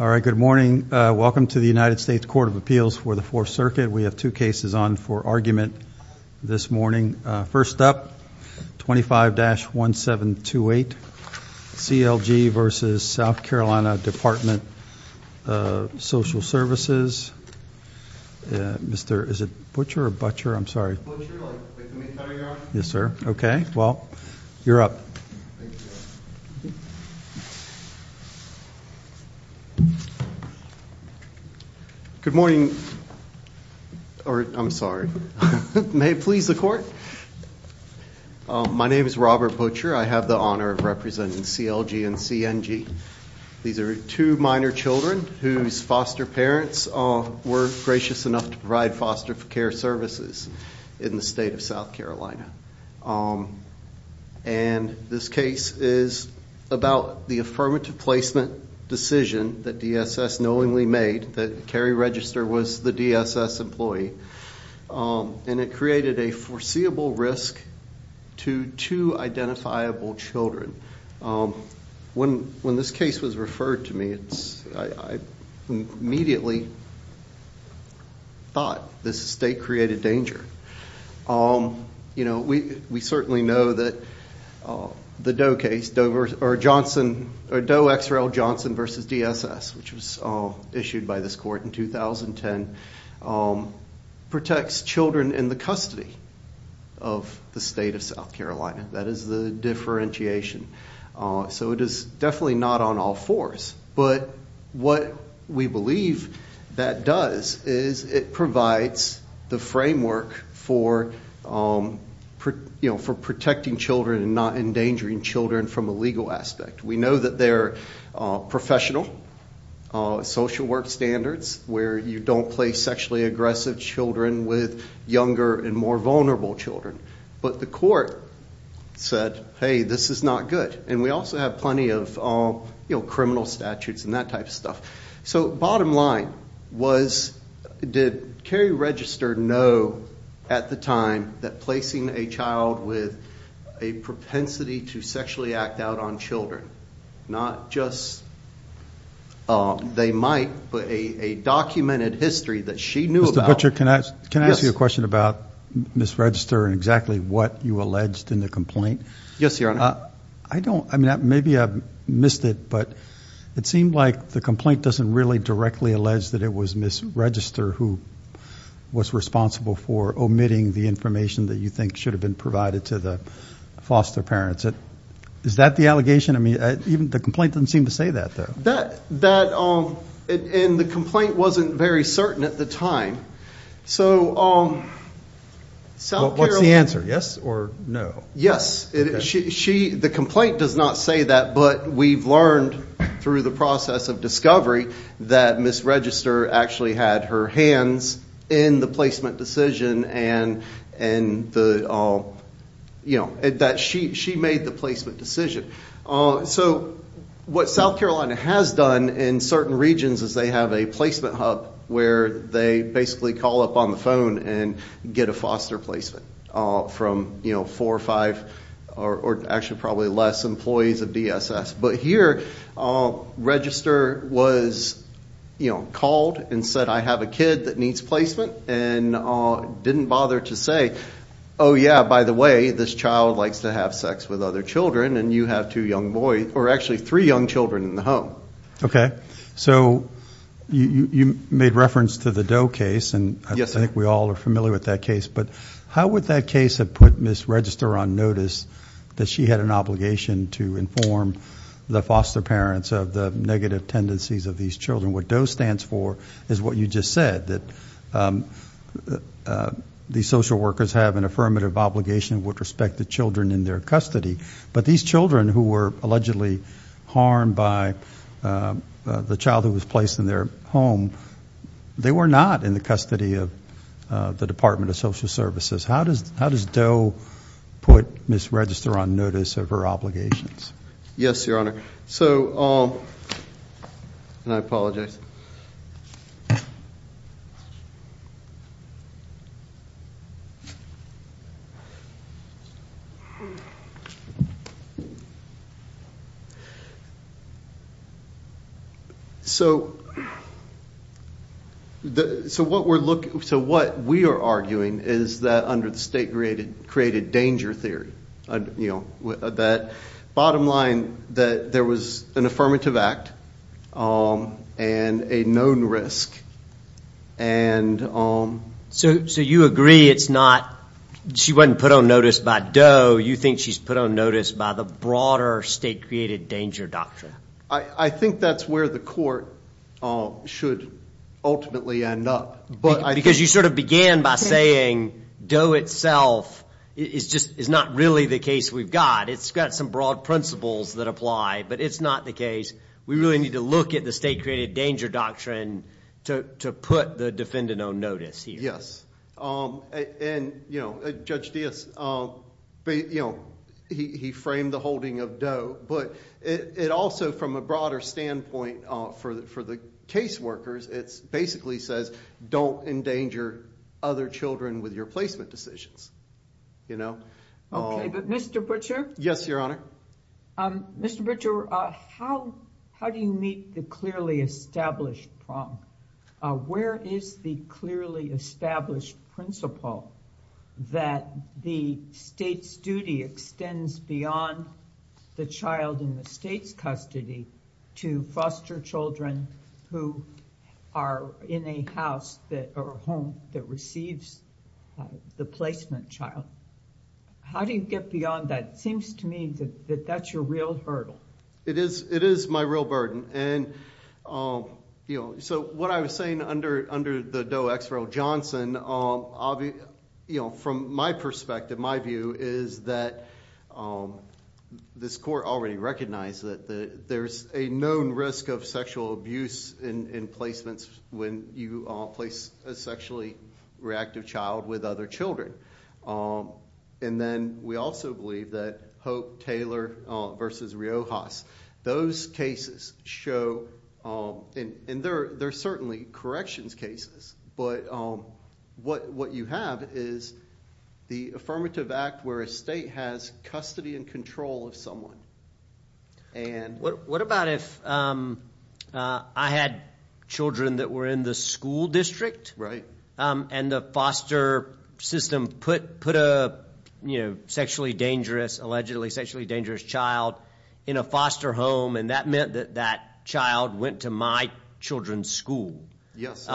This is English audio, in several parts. All right, good morning. Welcome to the United States Court of Appeals for the Fourth Circuit. We have two cases on for argument this morning. First up, 25-1728, C.L.G. v. South Carolina Department of Social Services. Mr. Is it Butcher or Butcher? I'm sorry. Butcher, like the meat cutter you're on? Yes, sir. Okay, well, you're up. Good morning, or I'm sorry. May it please the court? My name is Robert Butcher. I have the honor of representing C.L.G. and C.N.G. These are two minor children whose foster parents were gracious enough to provide foster care services in the state of South Carolina. And this case is about the affirmative placement decision that D.S.S. knowingly made that Cary Register was the D.S.S. employee. And it created a foreseeable risk to two identifiable children. When this case was referred to me, I immediately thought this state created danger. You know, we certainly know that the Doe case, or Doe-X-Rayle-Johnson v. D.S.S., which was issued by this court in 2010, protects children in the custody of the state of South Carolina. That is the differentiation. So it is definitely not on all fours. But what we believe that does is it provides the framework for protecting children and not endangering children from a legal aspect. We know that there are professional social work standards where you don't place sexually aggressive children with younger and more vulnerable children. But the court said, hey, this is not good. And we also have plenty of criminal statutes and that type of stuff. So bottom line was, did Cary Register know at the time that placing a child with a propensity to sexually act out on children, not just they might, but a documented history that she knew about. Judge Archer, can I ask you a question about Ms. Register and exactly what you alleged in the complaint? Yes, Your Honor. I don't, I mean, maybe I missed it, but it seemed like the complaint doesn't really directly allege that it was Ms. Register who was responsible for omitting the information that you think should have been provided to the foster parents. Is that the allegation? I mean, even the complaint doesn't seem to say that, though. It said that, and the complaint wasn't very certain at the time. What's the answer, yes or no? Yes. The complaint does not say that, but we've learned through the process of discovery that Ms. Register actually had her hands in the placement decision and that she made the placement decision. So, what South Carolina has done in certain regions is they have a placement hub where they basically call up on the phone and get a foster placement from, you know, four or five, or actually probably less, employees of DSS. But here, Register was, you know, called and said, I have a kid that needs placement and didn't bother to say, oh yeah, by the way, this child likes to have sex with other children and you have two young boys, or actually three young children in the home. Okay. So, you made reference to the Doe case, and I think we all are familiar with that case, but how would that case have put Ms. Register on notice that she had an obligation to inform the foster parents of the negative tendencies of these children? What Doe stands for is what you just said, that these social workers have an affirmative obligation with respect to children in their custody. But these children who were allegedly harmed by the child who was placed in their home, they were not in the custody of the Department of Social Services. How does Doe put Ms. Register on notice of her obligations? Yes, Your Honor. So, and I apologize. So, so what we're looking, so what we are arguing is that under the state-created danger theory, you know, that bottom line that there was an affirmative act and a known risk, and... So, so you agree it's not, she wasn't put on notice by Doe, so you think she's put on notice by the broader state-created danger doctrine? I think that's where the court should ultimately end up. Because you sort of began by saying Doe itself is just, is not really the case we've got. It's got some broad principles that apply, but it's not the case. We really need to look at the state-created danger doctrine to put the defendant on notice here. Yes. And, you know, Judge Dias, you know, he framed the holding of Doe, but it also, from a broader standpoint for the case workers, it basically says don't endanger other children with your placement decisions. You know? Okay, but Mr. Butcher? Yes, Your Honor. Mr. Butcher, how do you meet the clearly established problem? Where is the clearly established principle that the state's duty extends beyond the child in the state's custody to foster children who are in a house or home that receives the placement child? How do you get beyond that? It seems to me that that's your real hurdle. It is, it is my real burden. And, you know, so what I was saying under the Doe-X-Roe-Johnson, you know, from my perspective, my view is that this court already recognized that there's a known risk of sexual abuse in placements when you place a sexually reactive child with other children. And then we also believe that Hope-Taylor v. Riojas, those cases show, and they're certainly corrections cases, but what you have is the affirmative act where a state has custody and control of someone. What about if I had children that were in the school district? Right. And the foster system put a, you know, sexually dangerous, allegedly sexually dangerous child in a foster home and that meant that that child went to my children's school. Yes.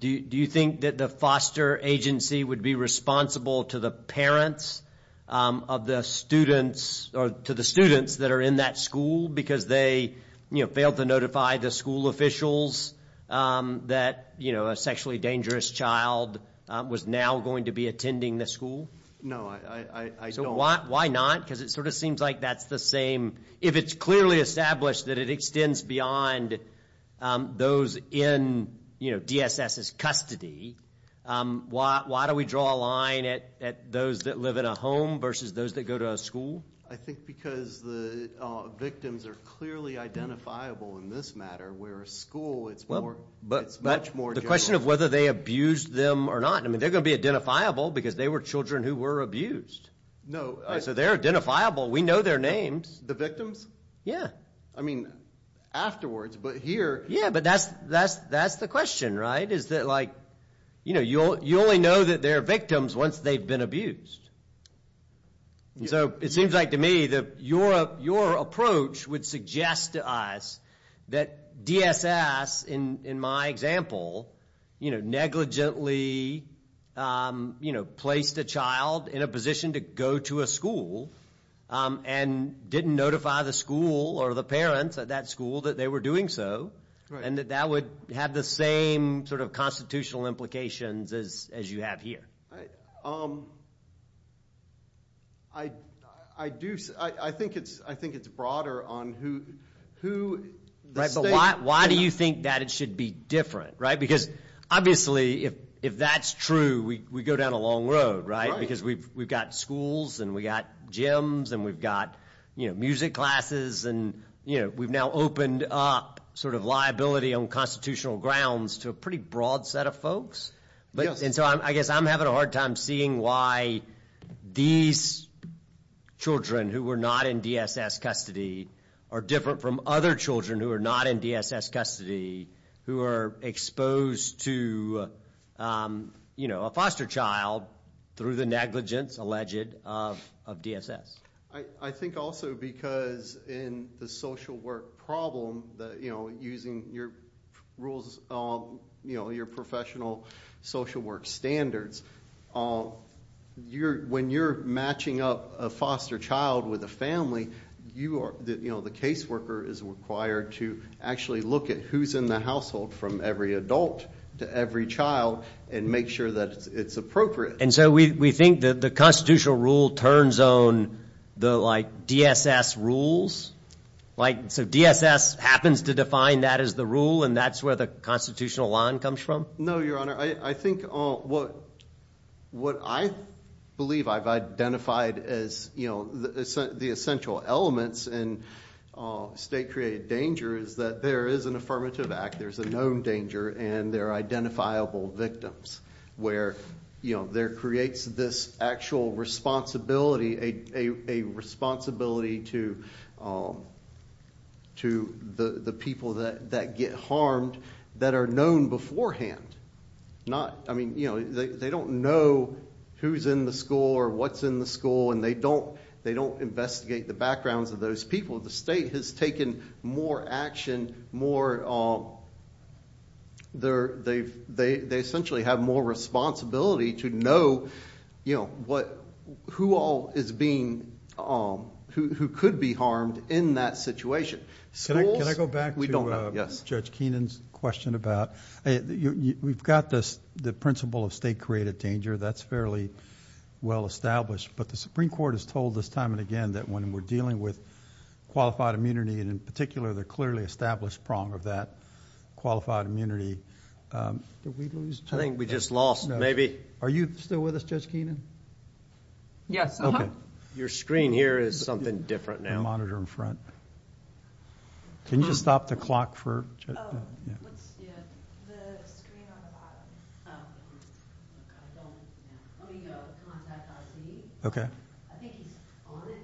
Do you think that the foster agency would be responsible to the parents of the students or to the students that are in that school because they, you know, failed to notify the school officials that, you know, a sexually dangerous child was now going to be attending the school? No, I don't. Why not? Because it sort of seems like that's the same. If it's clearly established that it extends beyond those in, you know, DSS's custody, why do we draw a line at those that live in a home versus those that go to a school? I think because the victims are clearly identifiable in this matter where a school, it's much more general. But the question of whether they abused them or not, I mean, they're going to be identifiable because they were children who were abused. No. So they're identifiable. We know their names. The victims? Yeah. I mean, afterwards, but here... Yeah, but that's the question, right? Is that like, you know, you only know that they're victims once they've been abused. And so it seems like to me that your approach would suggest to us that DSS, in my example, you know, negligently, you know, placed a child in a position to go to a school and didn't notify the school or the parents at that school that they were doing so and that that would have the same sort of constitutional implications as you have here. I do... I think it's broader on who... Right, but why do you think that it should be different, right? Because obviously, if that's true, we go down a long road, right? Because we've got schools and we've got gyms and we've got, you know, music classes and, you know, we've now opened up sort of liability on constitutional grounds to a pretty broad set of folks. And so I guess I'm having a hard time seeing why these children who were not in DSS custody are different from other children who are not in DSS custody who are exposed to, you know, a foster child through the negligence alleged of DSS. I think also because in the social work problem, you know, using your rules, you know, your professional social work standards, when you're matching up a foster child with a family, you are, you know, the caseworker is required to actually look at who's in the household from every adult to every child and make sure that it's appropriate. And so we think that the constitutional rule turns on the, like, DSS rules? Like, so DSS happens to define that as the rule and that's where the constitutional line comes from? No, Your Honor. I think what I believe I've identified as, you know, the essential elements in state-created danger is that there is an affirmative act. There's a known danger and there are identifiable victims where, you know, there creates this actual responsibility, a responsibility to the people that get harmed that are known beforehand. Not, I mean, you know, they don't know who's in the school or what's in the school and they don't investigate the backgrounds of those people. The state has taken more action, more, they essentially have more responsibility to know, you know, who all is being, who could be harmed in that situation. Can I go back to Judge Keenan's question about, we've got this, the principle of state-created danger, that's fairly well established, but the Supreme Court has told us time and again that when we're dealing with qualified immunity, and in particular the clearly established prong of that qualified immunity, did we lose? I think we just lost, maybe. Are you still with us, Judge Keenan? Yes. Okay. Your screen here is something different now. The monitor in front. Can you just stop the clock for Judge Keenan? Oh, what's the, the screen on the bottom? I don't, let me go contact our team. Okay. I think he's on it.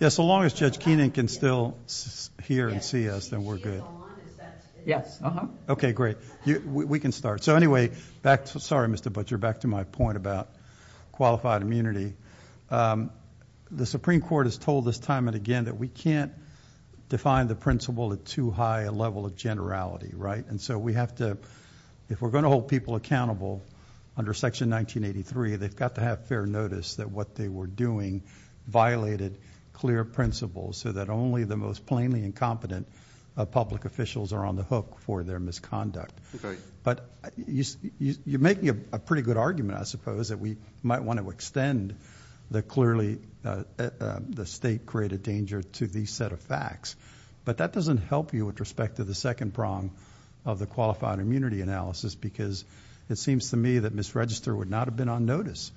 Yeah, so long as Judge Keenan can still hear and see us, then we're good. Yes. Okay, great. We can start. So anyway, back to, sorry Mr. Butcher, back to my point about qualified immunity. The Supreme Court has told us time and again that we can't define the principle at too high a level of generality, right? And so we have to, if we're going to hold people accountable under Section 1983, they've got to have fair notice that what they were doing violated clear principles so that only the most plainly incompetent public officials are on the hook for their misconduct. Okay. But you're making a pretty good argument, I suppose, that we might want to extend the clearly, the state created danger to these set of facts. But that doesn't help you with respect to the second prong of the qualified immunity analysis because it seems to me that Ms. Register would not have been on notice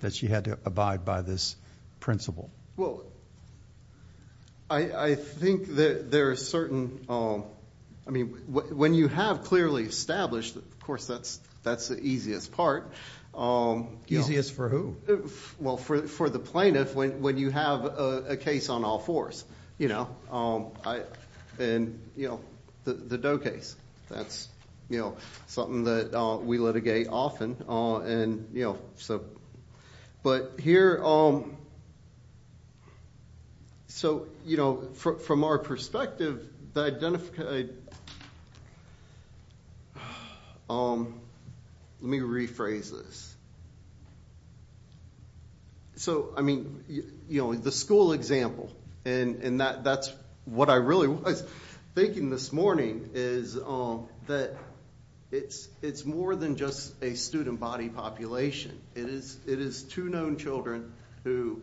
that she had to abide by this principle. Well, I think that there are certain, I mean, when you have clearly established, of course, that's the easiest part. Easiest for who? Well, for the plaintiff, when you have a case on all fours, you know. And, you know, the Doe case. That's, you know, something that we litigate often and, you know, so. But here, so, you know, from our perspective, the identification, let me rephrase this. So, I mean, you know, the school example, and that's what I really was thinking this morning, is that it's more than just a student body population. It is two known children who,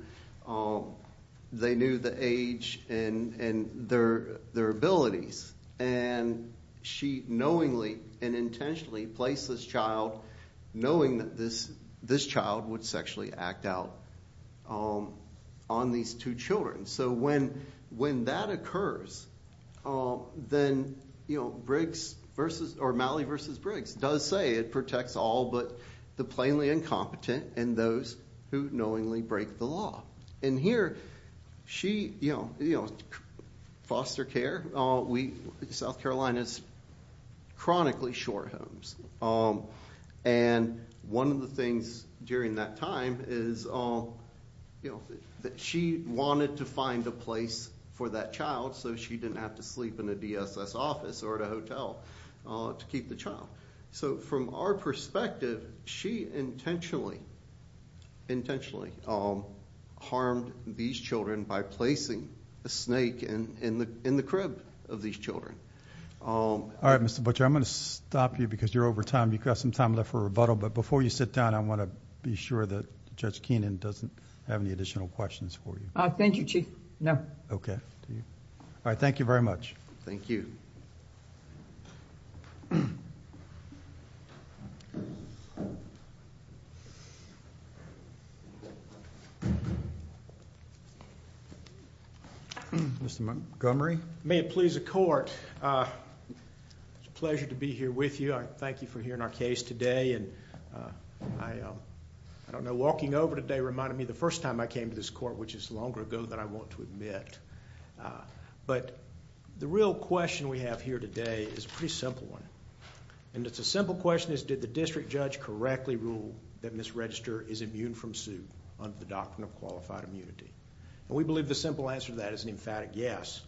they knew the age and their abilities. And she knowingly and intentionally placed this child, knowing that this child would sexually act out on these two children. So when that occurs, then, you know, Malley v. Briggs does say it protects all but the plainly incompetent and those who knowingly break the law. And here, she, you know, foster care, South Carolina's chronically short homes. And one of the things during that time is, you know, that she wanted to find a place for that child so she didn't have to sleep in a DSS office or at a hotel to keep the child. So from our perspective, she intentionally harmed these children by placing a snake in the crib of these children. All right, Mr. Butcher, I'm going to stop you because you're over time. You've got some time left for rebuttal. But before you sit down, I want to be sure that Judge Keenan doesn't have any additional questions for you. Thank you, Chief. No. Okay. All right, thank you very much. Thank you. Mr. Montgomery? May it please the court, it's a pleasure to be here with you. I thank you for hearing our case today. And I don't know, walking over today reminded me the first time I came to this court, which is longer ago than I want to admit. But the real question we have here today is a pretty simple one. And it's a simple question is, did the district judge correctly rule that Ms. Register is immune from suit under the doctrine of qualified immunity? And we believe the simple answer to that is an emphatic yes.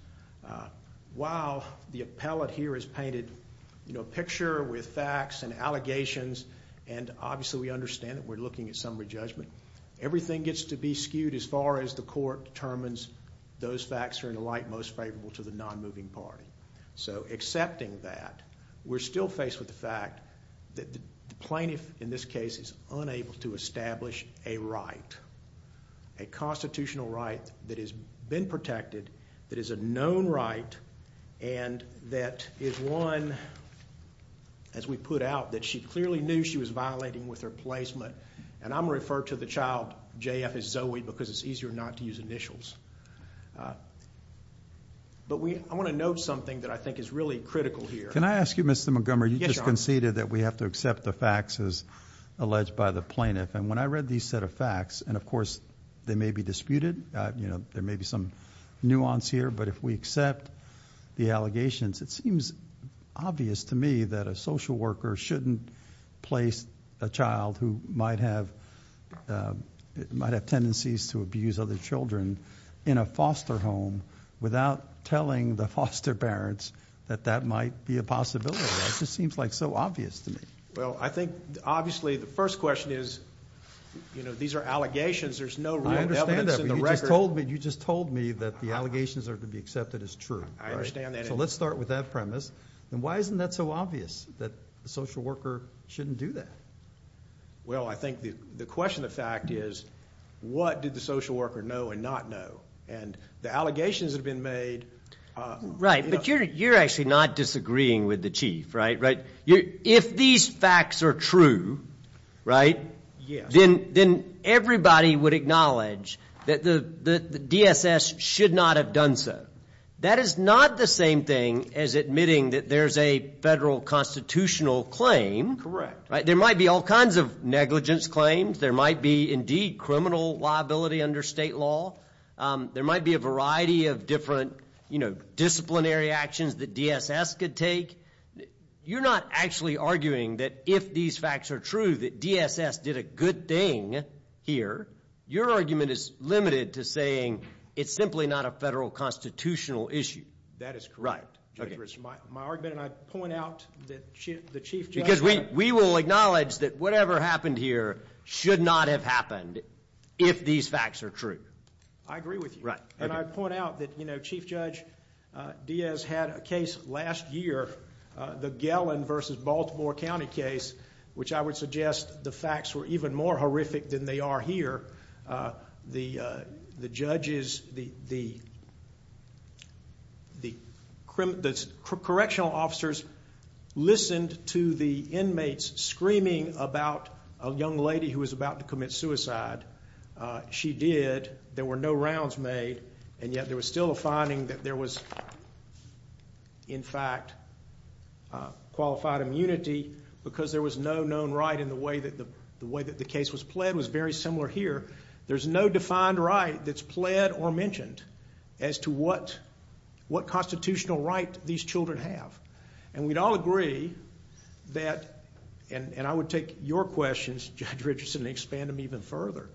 While the appellate here has painted a picture with facts and allegations, and obviously we understand that we're looking at summary judgment, everything gets to be skewed as far as the court determines those facts are in the light most favorable to the non-moving party. So accepting that, we're still faced with the fact that the plaintiff in this case is unable to establish a right. A constitutional right that has been protected, that is a known right, and that is one, as we put out, that she clearly knew she was violating with her placement. And I'm going to refer to the child JF as Zoe because it's easier not to use initials. But I want to note something that I think is really critical here. Can I ask you, Mr. Montgomery? You just conceded that we have to accept the facts as alleged by the plaintiff. And when I read these set of facts, and of course they may be disputed, there may be some nuance here, but if we accept the allegations, it seems obvious to me that a social worker shouldn't place a child who might have tendencies to abuse other children in a foster home without telling the foster parents that that might be a possibility. It just seems like so obvious to me. Well, I think, obviously, the first question is, you know, these are allegations, there's no real evidence in the record. I understand that, but you just told me that the allegations are to be accepted as true. I understand that. So let's start with that premise. And why isn't that so obvious, that the social worker shouldn't do that? Well, I think the question of fact is, what did the social worker know and not know? And the allegations that have been made... Right, but you're actually not disagreeing with the Chief, right? If these facts are true, right? Yes. Then everybody would acknowledge that the DSS should not have done so. That is not the same thing as admitting that there's a federal constitutional claim. There might be all kinds of negligence claims. There might be, indeed, criminal liability under state law. There might be a variety of different, you know, disciplinary actions that DSS could take. You're not actually arguing that if these facts are true, that DSS did a good thing here. Your argument is limited to saying it's simply not a federal constitutional issue. That is correct. Right. My argument, and I point out that the Chief Judge... Because we will acknowledge that whatever happened here should not have happened if these facts are true. I agree with you. Right. And I point out that, you know, Chief Judge Diaz had a case last year, the Gellin versus Baltimore County case, which I would suggest the facts were even more horrific than they are here. The judges, the correctional officers, listened to the inmates screaming about a young lady who was about to commit suicide. She did. There were no rounds made. And yet there was still a finding that there was, in fact, qualified immunity because there was no known right in the way that the case was pled. It was very similar here. There's no defined right that's pled or mentioned as to what constitutional right these children have. And we'd all agree that, and I would take your questions, Judge Richardson, and expand them even further.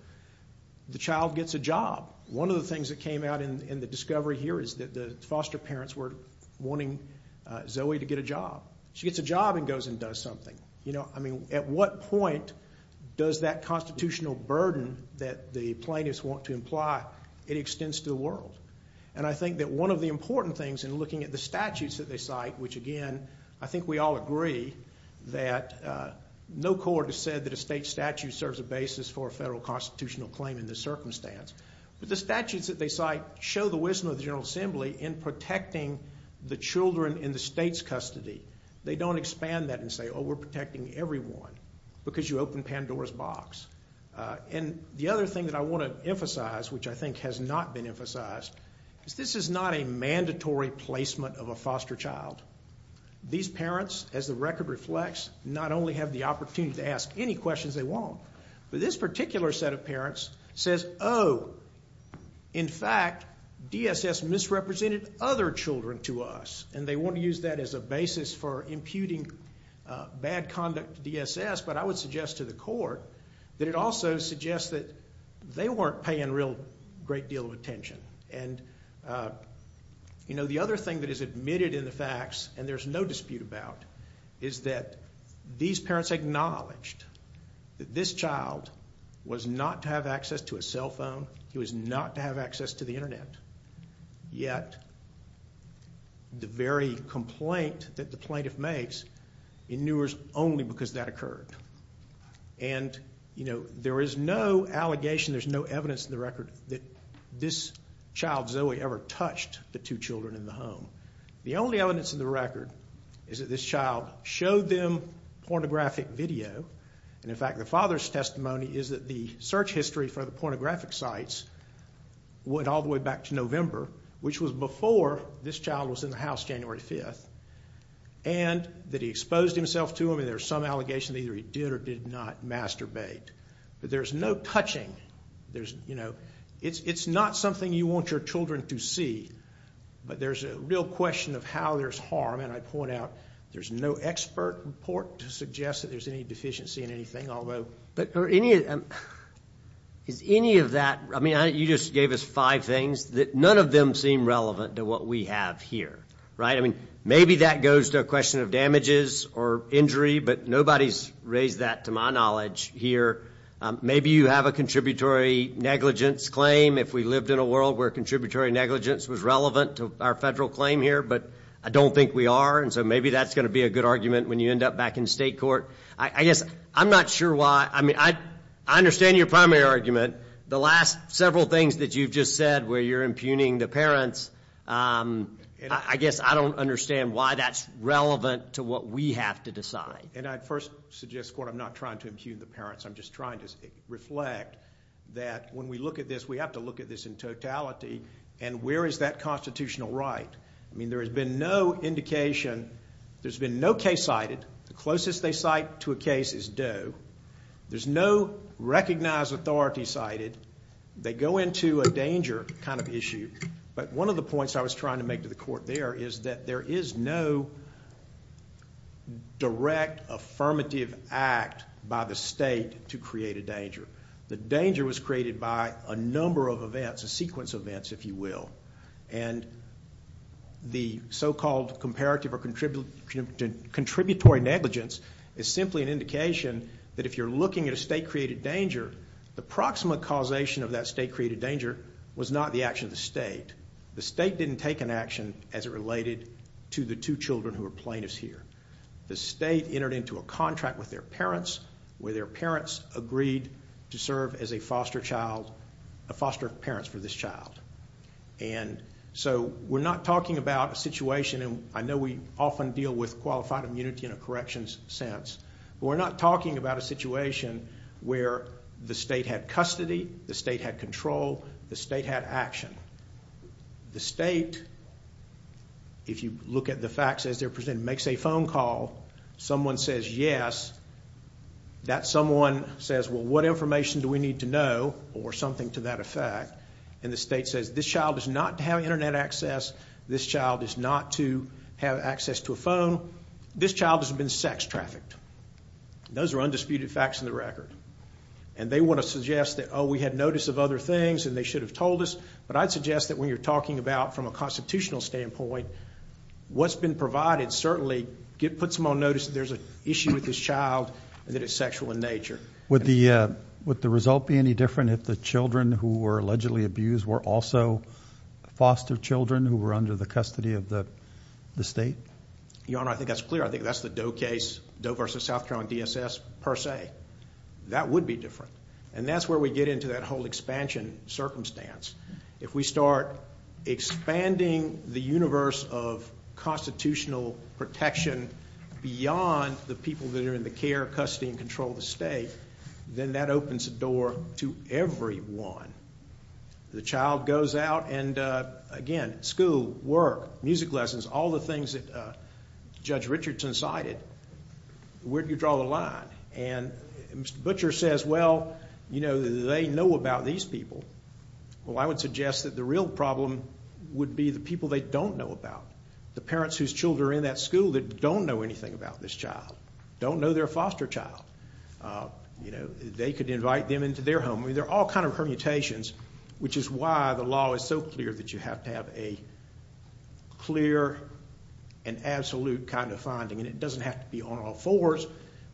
The child gets a job. One of the things that came out in the discovery here is that the foster parents were wanting Zoe to get a job. She gets a job and goes and does something. You know, I mean, at what point does that constitutional burden that the plaintiffs want to imply, it extends to the world? And I think that one of the important things in looking at the statutes that they cite, which again, I think we all agree, that no court has said that a state statute serves a basis for a federal constitutional claim in this circumstance. But the statutes that they cite show the wisdom of the General Assembly in protecting the children in the state's custody. They don't expand that and say, oh, we're protecting everyone because you opened Pandora's box. And the other thing that I want to emphasize, which I think has not been emphasized, is this is not a mandatory placement of a foster child. These parents, as the record reflects, not only have the opportunity to ask any questions they want, but this particular set of parents says, oh, in fact, DSS misrepresented other children to us. And they want to use that as a basis for imputing bad conduct to DSS. But I would suggest to the court that it also suggests that they weren't paying a real great deal of attention. And, you know, the other thing that is admitted in the facts and there's no dispute about is that these parents acknowledged that this child was not to have access to a cell phone. He was not to have access to the internet. Yet the very complaint that the plaintiff makes inures only because that occurred. And, you know, there is no allegation, there's no evidence in the record that this child, Zoe, ever touched the two children in the home. The only evidence in the record is that this child showed them pornographic video. And, in fact, the father's testimony is that the search history for the pornographic sites went all the way back to November, which was before this child was in the house January 5th. And that he exposed himself to them and there's some allegation that either he did or did not masturbate. But there's no touching. There's, you know, it's not something you want your children to see. But there's a real question of how there's harm. And I point out there's no expert report to suggest that there's any deficiency in anything, although... Is any of that... I mean, you just gave us five things that none of them seem relevant to what we have here, right? I mean, maybe that goes to a question of damages or injury, but nobody's raised that, to my knowledge, here. Maybe you have a contributory negligence claim if we lived in a world where contributory negligence was relevant to our federal claim here, but I don't think we are, and so maybe that's going to be a good argument when you end up back in state court. I guess I'm not sure why... I mean, I understand your primary argument. The last several things that you've just said where you're impugning the parents, I guess I don't understand why that's relevant to what we have to decide. And I first suggest, Court, I'm not trying to impugn the parents. I'm just trying to reflect that when we look at this, we have to look at this in totality. And where is that constitutional right? I mean, there has been no indication... There's been no case cited. The closest they cite to a case is Doe. There's no recognized authority cited. They go into a danger kind of issue, but one of the points I was trying to make to the Court there is that there is no direct affirmative act by the state to create a danger. The danger was created by a number of events, a sequence of events, if you will. And the so-called comparative or contributory negligence is simply an indication that if you're looking at a state-created danger, the proximate causation of that state-created danger was not the action of the state. The state didn't take an action as it related to the two children who were plaintiffs here. The state entered into a contract with their parents where their parents agreed to serve as a foster child... a foster parent for this child. And so we're not talking about a situation, and I know we often deal with qualified immunity in a corrections sense, but we're not talking about a situation where the state had custody, the state had control, the state had action. The state, if you look at the facts as they're presented, makes a phone call. Someone says yes. That someone says, well, what information do we need to know or something to that effect? And the state says, this child does not have Internet access, this child is not to have access to a phone, this child has been sex-trafficked. Those are undisputed facts in the record. And they want to suggest that, oh, we had notice of other things and they should have told us. But I'd suggest that when you're talking about, from a constitutional standpoint, what's been provided certainly puts them on notice that there's an issue with this child and that it's sexual in nature. Would the result be any different if the children who were allegedly abused were also foster children who were under the custody of the state? Your Honor, I think that's clear. I think that's the Doe case, Doe v. South Carolina DSS, per se. That would be different. And that's where we get into that whole expansion circumstance. If we start expanding the universe of constitutional protection beyond the people that are in the care, custody, and control of the state, then that opens the door to everyone. The child goes out and, again, school, work, music lessons, all the things that Judge Richardson cited, where do you draw the line? And Mr. Butcher says, well, you know, they know about these people. Well, I would suggest that the real problem would be the people they don't know about. The parents whose children are in that school that don't know anything about this child. Don't know they're a foster child. You know, they could invite them into their home. I mean, they're all kind of permutations, which is why the law is so clear that you have to have a clear and absolute kind of finding. And it doesn't have to be on all fours,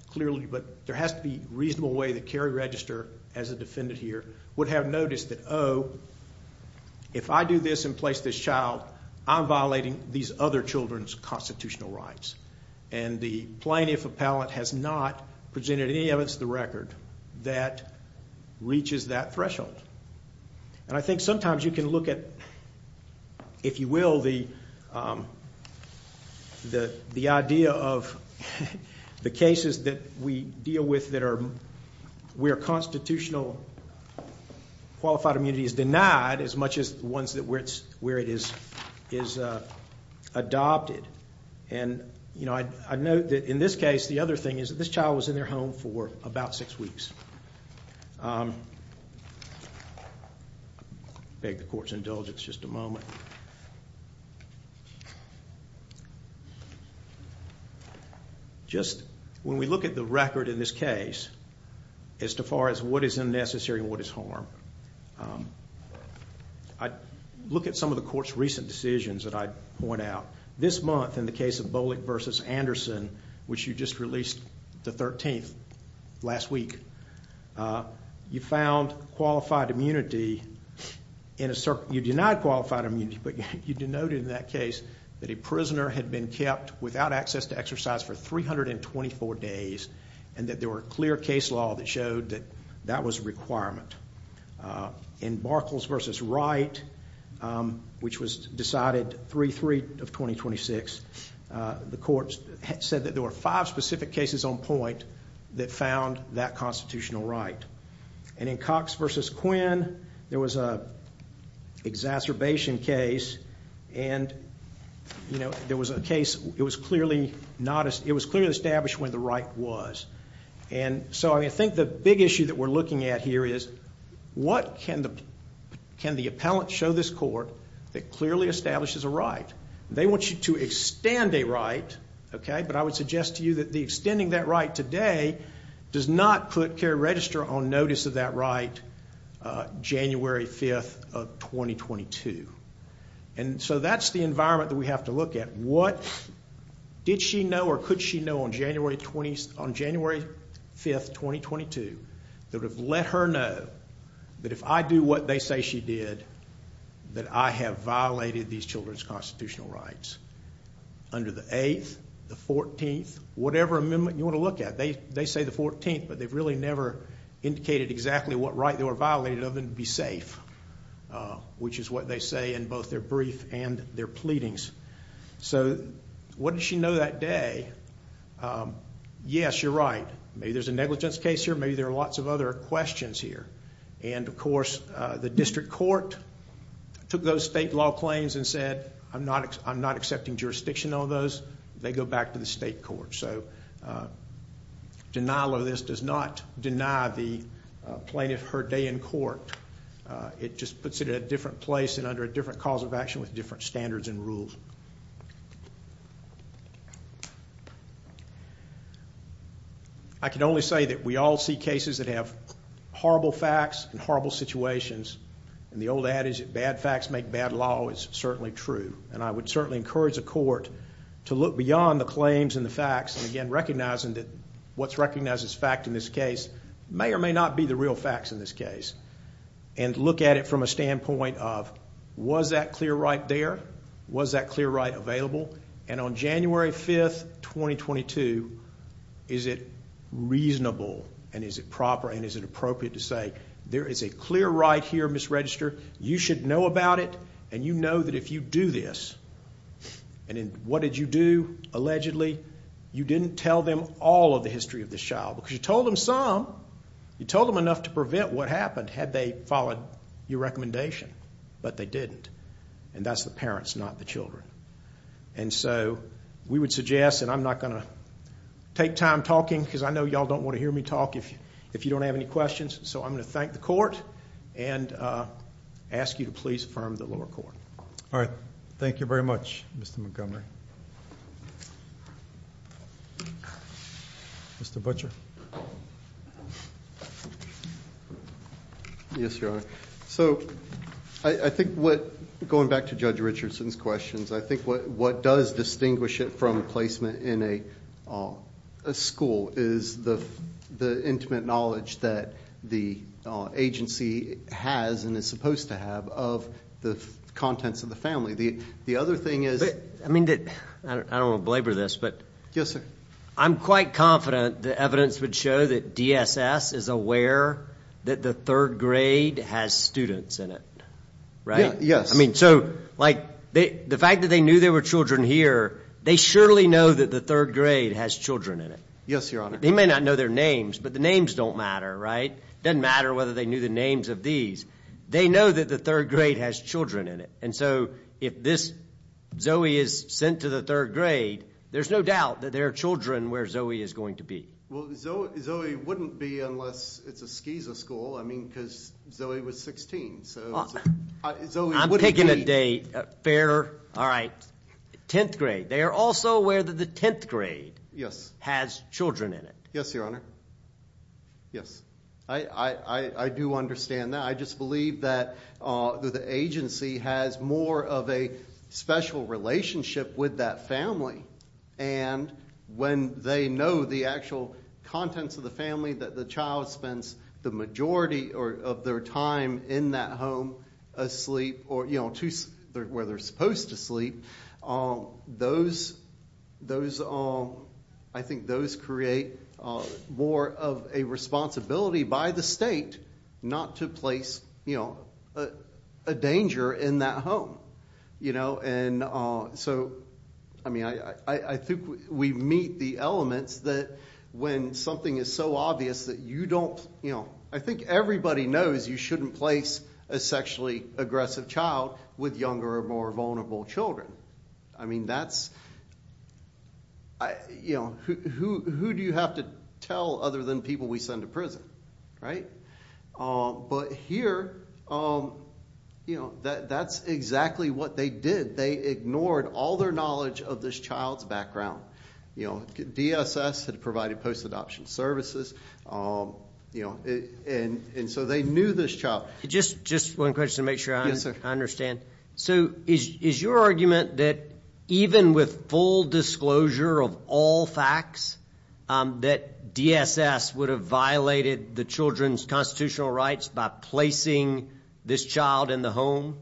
clearly, but there has to be a reasonable way that Cary Register, as a defendant here, would have noticed that, oh, if I do this and place this child, I'm violating these other children's constitutional rights. And the plaintiff appellant has not presented any evidence to the record that reaches that threshold. And I think sometimes you can look at, if you will, the idea of the cases that we deal with that are where constitutional qualified immunity is denied as much as the ones where it is adopted. And, you know, I note that in this case, the other thing is that this child was in their home for about six weeks. I beg the Court's indulgence just a moment. Just when we look at the record in this case, as far as what is unnecessary and what is harm, I look at some of the Court's recent decisions that I point out. This month, in the case of Bolick v. Anderson, which you just released the 13th, last week, you found qualified immunity in a certain, you denied qualified immunity, but you denoted in that case that a prisoner had been kept without access to exercise for 324 days, and that there were clear case law that showed that that was a requirement. In Barkles v. Wright, which was decided 3-3 of 2026, the Court said that there were five specific cases on point that found that constitutional right. And in Cox v. Quinn, there was an exacerbation case, and there was a case, it was clearly established when the right was. And so, I think the big issue that we're looking at here is what can the Court show this Court that clearly establishes a right? They want you to extend a right, but I would suggest to you that extending that right today does not put Kerry Register on notice of that right January 5th of 2022. And so that's the environment that we have to look at. What did she know or could she know on January 5th 2022 that would have let her know that if I do what they say she did, that I have violated these children's constitutional rights under the 8th, the 14th, whatever amendment you want to look at. They say the 14th, but they've really never indicated exactly what right they were violated of and to be safe, which is what they say in both their brief and their pleadings. So, what did she know that day? Yes, you're right. Maybe there's a negligence case here, maybe there are lots of other questions here. And, of course, the district court took those state law claims and said, I'm not accepting jurisdiction on those. They go back to the state court. So, denial of this does not deny the plaintiff her day in court. It just puts it in a different place and under a different cause of action with different standards and rules. I can only say that we all see cases that have horrible facts and horrible situations. And the old adage that bad facts make bad law is certainly true. And I would certainly encourage the court to look beyond the claims and the facts and, again, recognizing that what's recognized as fact in this case may or may not be the real facts in this case. And look at it from a standpoint of was that clear right there? Was that clear right available? And on January 5th, 2022, is it reasonable and is it proper and is it appropriate to say, there is a clear right here, Ms. Register. You should know about it and you know that if you do this and what did you do allegedly, you didn't tell them all of the history of this child because you told them some. You told them enough to prevent what happened had they followed your recommendation, but they didn't. And that's the parents, not the children. And so we would suggest, and I'm not going to take time talking because I know you all don't want to hear me talk if you don't have any questions. So I'm going to thank the court and ask you to please affirm the lower court. All right. Thank you very much, Mr. Montgomery. Mr. Butcher. Yes, Your Honor. So I think what, going back to Judge Richardson's questions, I think what does distinguish it from placement in a school is the intimate knowledge that the agency has and is supposed to have of the contents of the family. The other thing is... I mean, I don't want to belabor this, but... Yes, sir. I'm quite confident the evidence would show that DSS is aware that the third grade has students in it. Right? Yes. I mean, so, like the fact that they knew there were children here, they surely know that the third grade has children in it. Yes, Your Honor. They may not know their names, but the names don't matter, right? Doesn't matter whether they knew the names of these. They know that the third grade has children in it. And so if this Zoe is sent to the third grade, there's no doubt that there are children where Zoe is going to be. Well, Zoe wouldn't be unless it's a SKESA school. I mean, because Zoe was 16. I'm picking a date. Fair. Alright. Tenth grade. They are also aware that the tenth grade has children in it. Yes, Your Honor. Yes. I do understand that. I just believe that the agency has more of a special relationship with that family. And when they know the actual contents of the family that the child spends the majority of their time in that home asleep or where they're supposed to sleep, those I think those create more of a responsibility by the state not to place a danger in that home. You know, and so, I mean, I think we meet the elements that when something is so obvious that you don't, you know, I think everybody knows you shouldn't place a sexually aggressive child with younger or more vulnerable children. I mean, that's you know, who do you have to tell other than people we send to prison? Right? But here, you know, that's exactly what they did. They ignored all their knowledge of this child's background. You know, DSS had provided post-adoption services. You know, and so they knew this child. Just one question to make sure I understand. So is your argument that even with full disclosure of all facts that DSS would have violated the children's constitutional rights by placing this child in the home?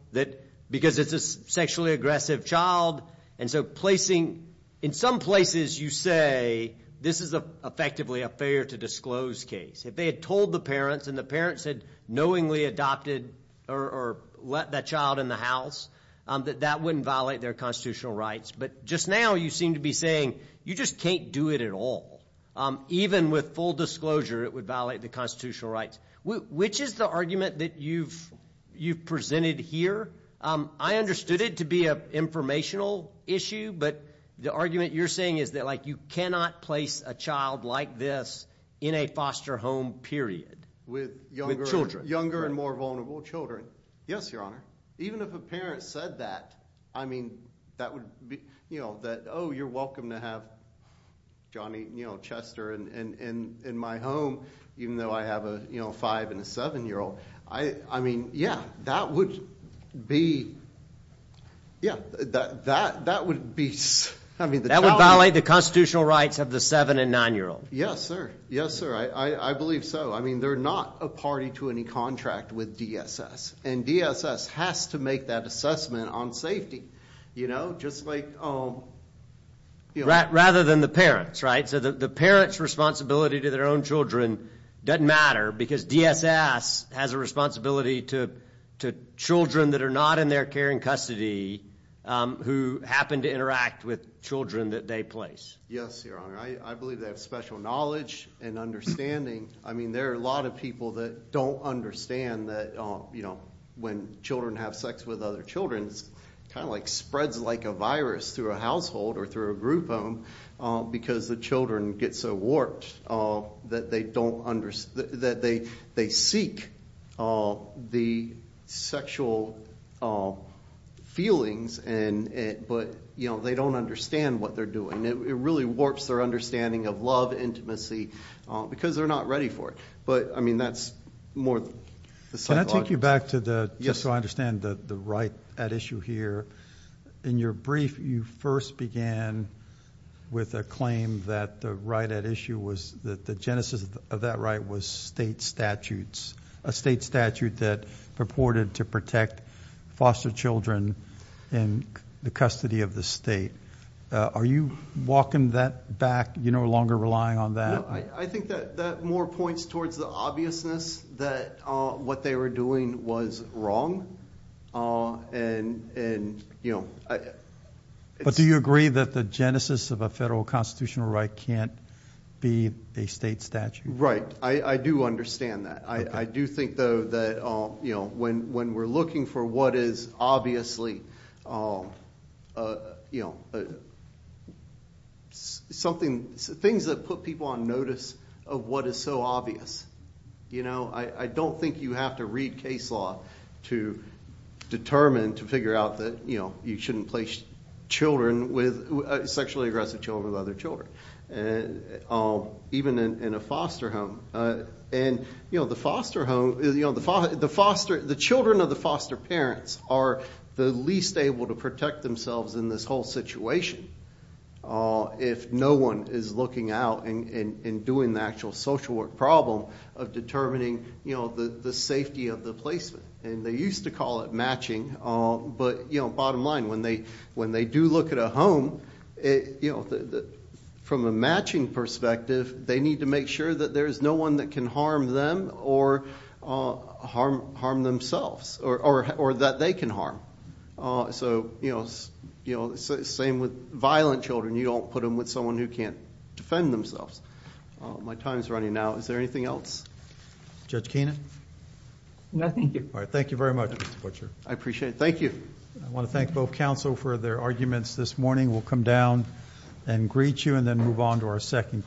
Because it's a sexually aggressive child, and so placing in some places you say this is effectively a failure to disclose case. If they had told the parents and the parents had knowingly adopted or let that child in the house, that that wouldn't violate their constitutional rights. But just now you seem to be saying you just can't do it at all. Even with full disclosure it would violate the constitutional rights. Which is the argument that you've presented here? I understood it to be an informational issue, but the argument you're saying is that like you cannot place a child like this in a foster home, period. With children. Younger and more vulnerable children. Yes, Your Honor. Even if a parent said that, I mean, that would be you know, that, oh, you're welcome to have Johnny, you know, even though I have a 5 and a 7 year old. I mean, yeah, that would be yeah, that would be That would violate the constitutional rights of the 7 and 9 year old. Yes, sir. Yes, sir. I believe so. I mean, they're not a party to any contract with DSS. And DSS has to make that assessment on safety. You know, just like Rather than the parents, right? So the parent's responsibility to their own children doesn't matter because DSS has a responsibility to children that are not in their care and custody who happen to interact with children that they place. Yes, Your Honor. I believe they have special knowledge and understanding. I mean, there are a lot of people that don't understand that, you know, when children have sex with other children, it kind of like spreads like a virus through a household or through a group of them because the children get so warped that they don't understand, that they seek the sexual feelings but, you know, they don't understand what they're doing. It really warps their understanding of love, intimacy because they're not ready for it. But I mean, that's more Can I take you back to the, just so I understand the right at issue here. In your brief, you first began with a claim that the right at issue was that the genesis of that right was state statutes. A state statute that purported to protect foster children in the custody of the state. Are you walking that back? You're no longer relying on that? I think that more points towards the obviousness that what they were doing was wrong and you know But do you agree that the genesis of a federal constitutional right can't be a state statute? Right. I do understand that. I do think though that when we're looking for what is obviously you know something things that put people on notice of what is so obvious you know, I don't think you have to read case law to determine, to figure out that you shouldn't place children with, sexually aggressive children with other children. Even in a foster home and you know the foster home, the foster the children of the foster parents are the least able to protect themselves in this whole situation if no one is looking out and doing the actual social work problem of determining the safety of the placement and they used to call it matching but you know bottom line, when they do look at a home from a matching perspective they need to make sure that there is no one that can harm them or harm themselves or that they can harm so you know same with violent children, you don't put them with someone who can't defend themselves. My time is running out. Is there anything else? Judge Keenan? No, thank you. I appreciate it. Thank you. I want to thank both counsel for their arguments this morning. We'll come down and greet you and then move on to our second case.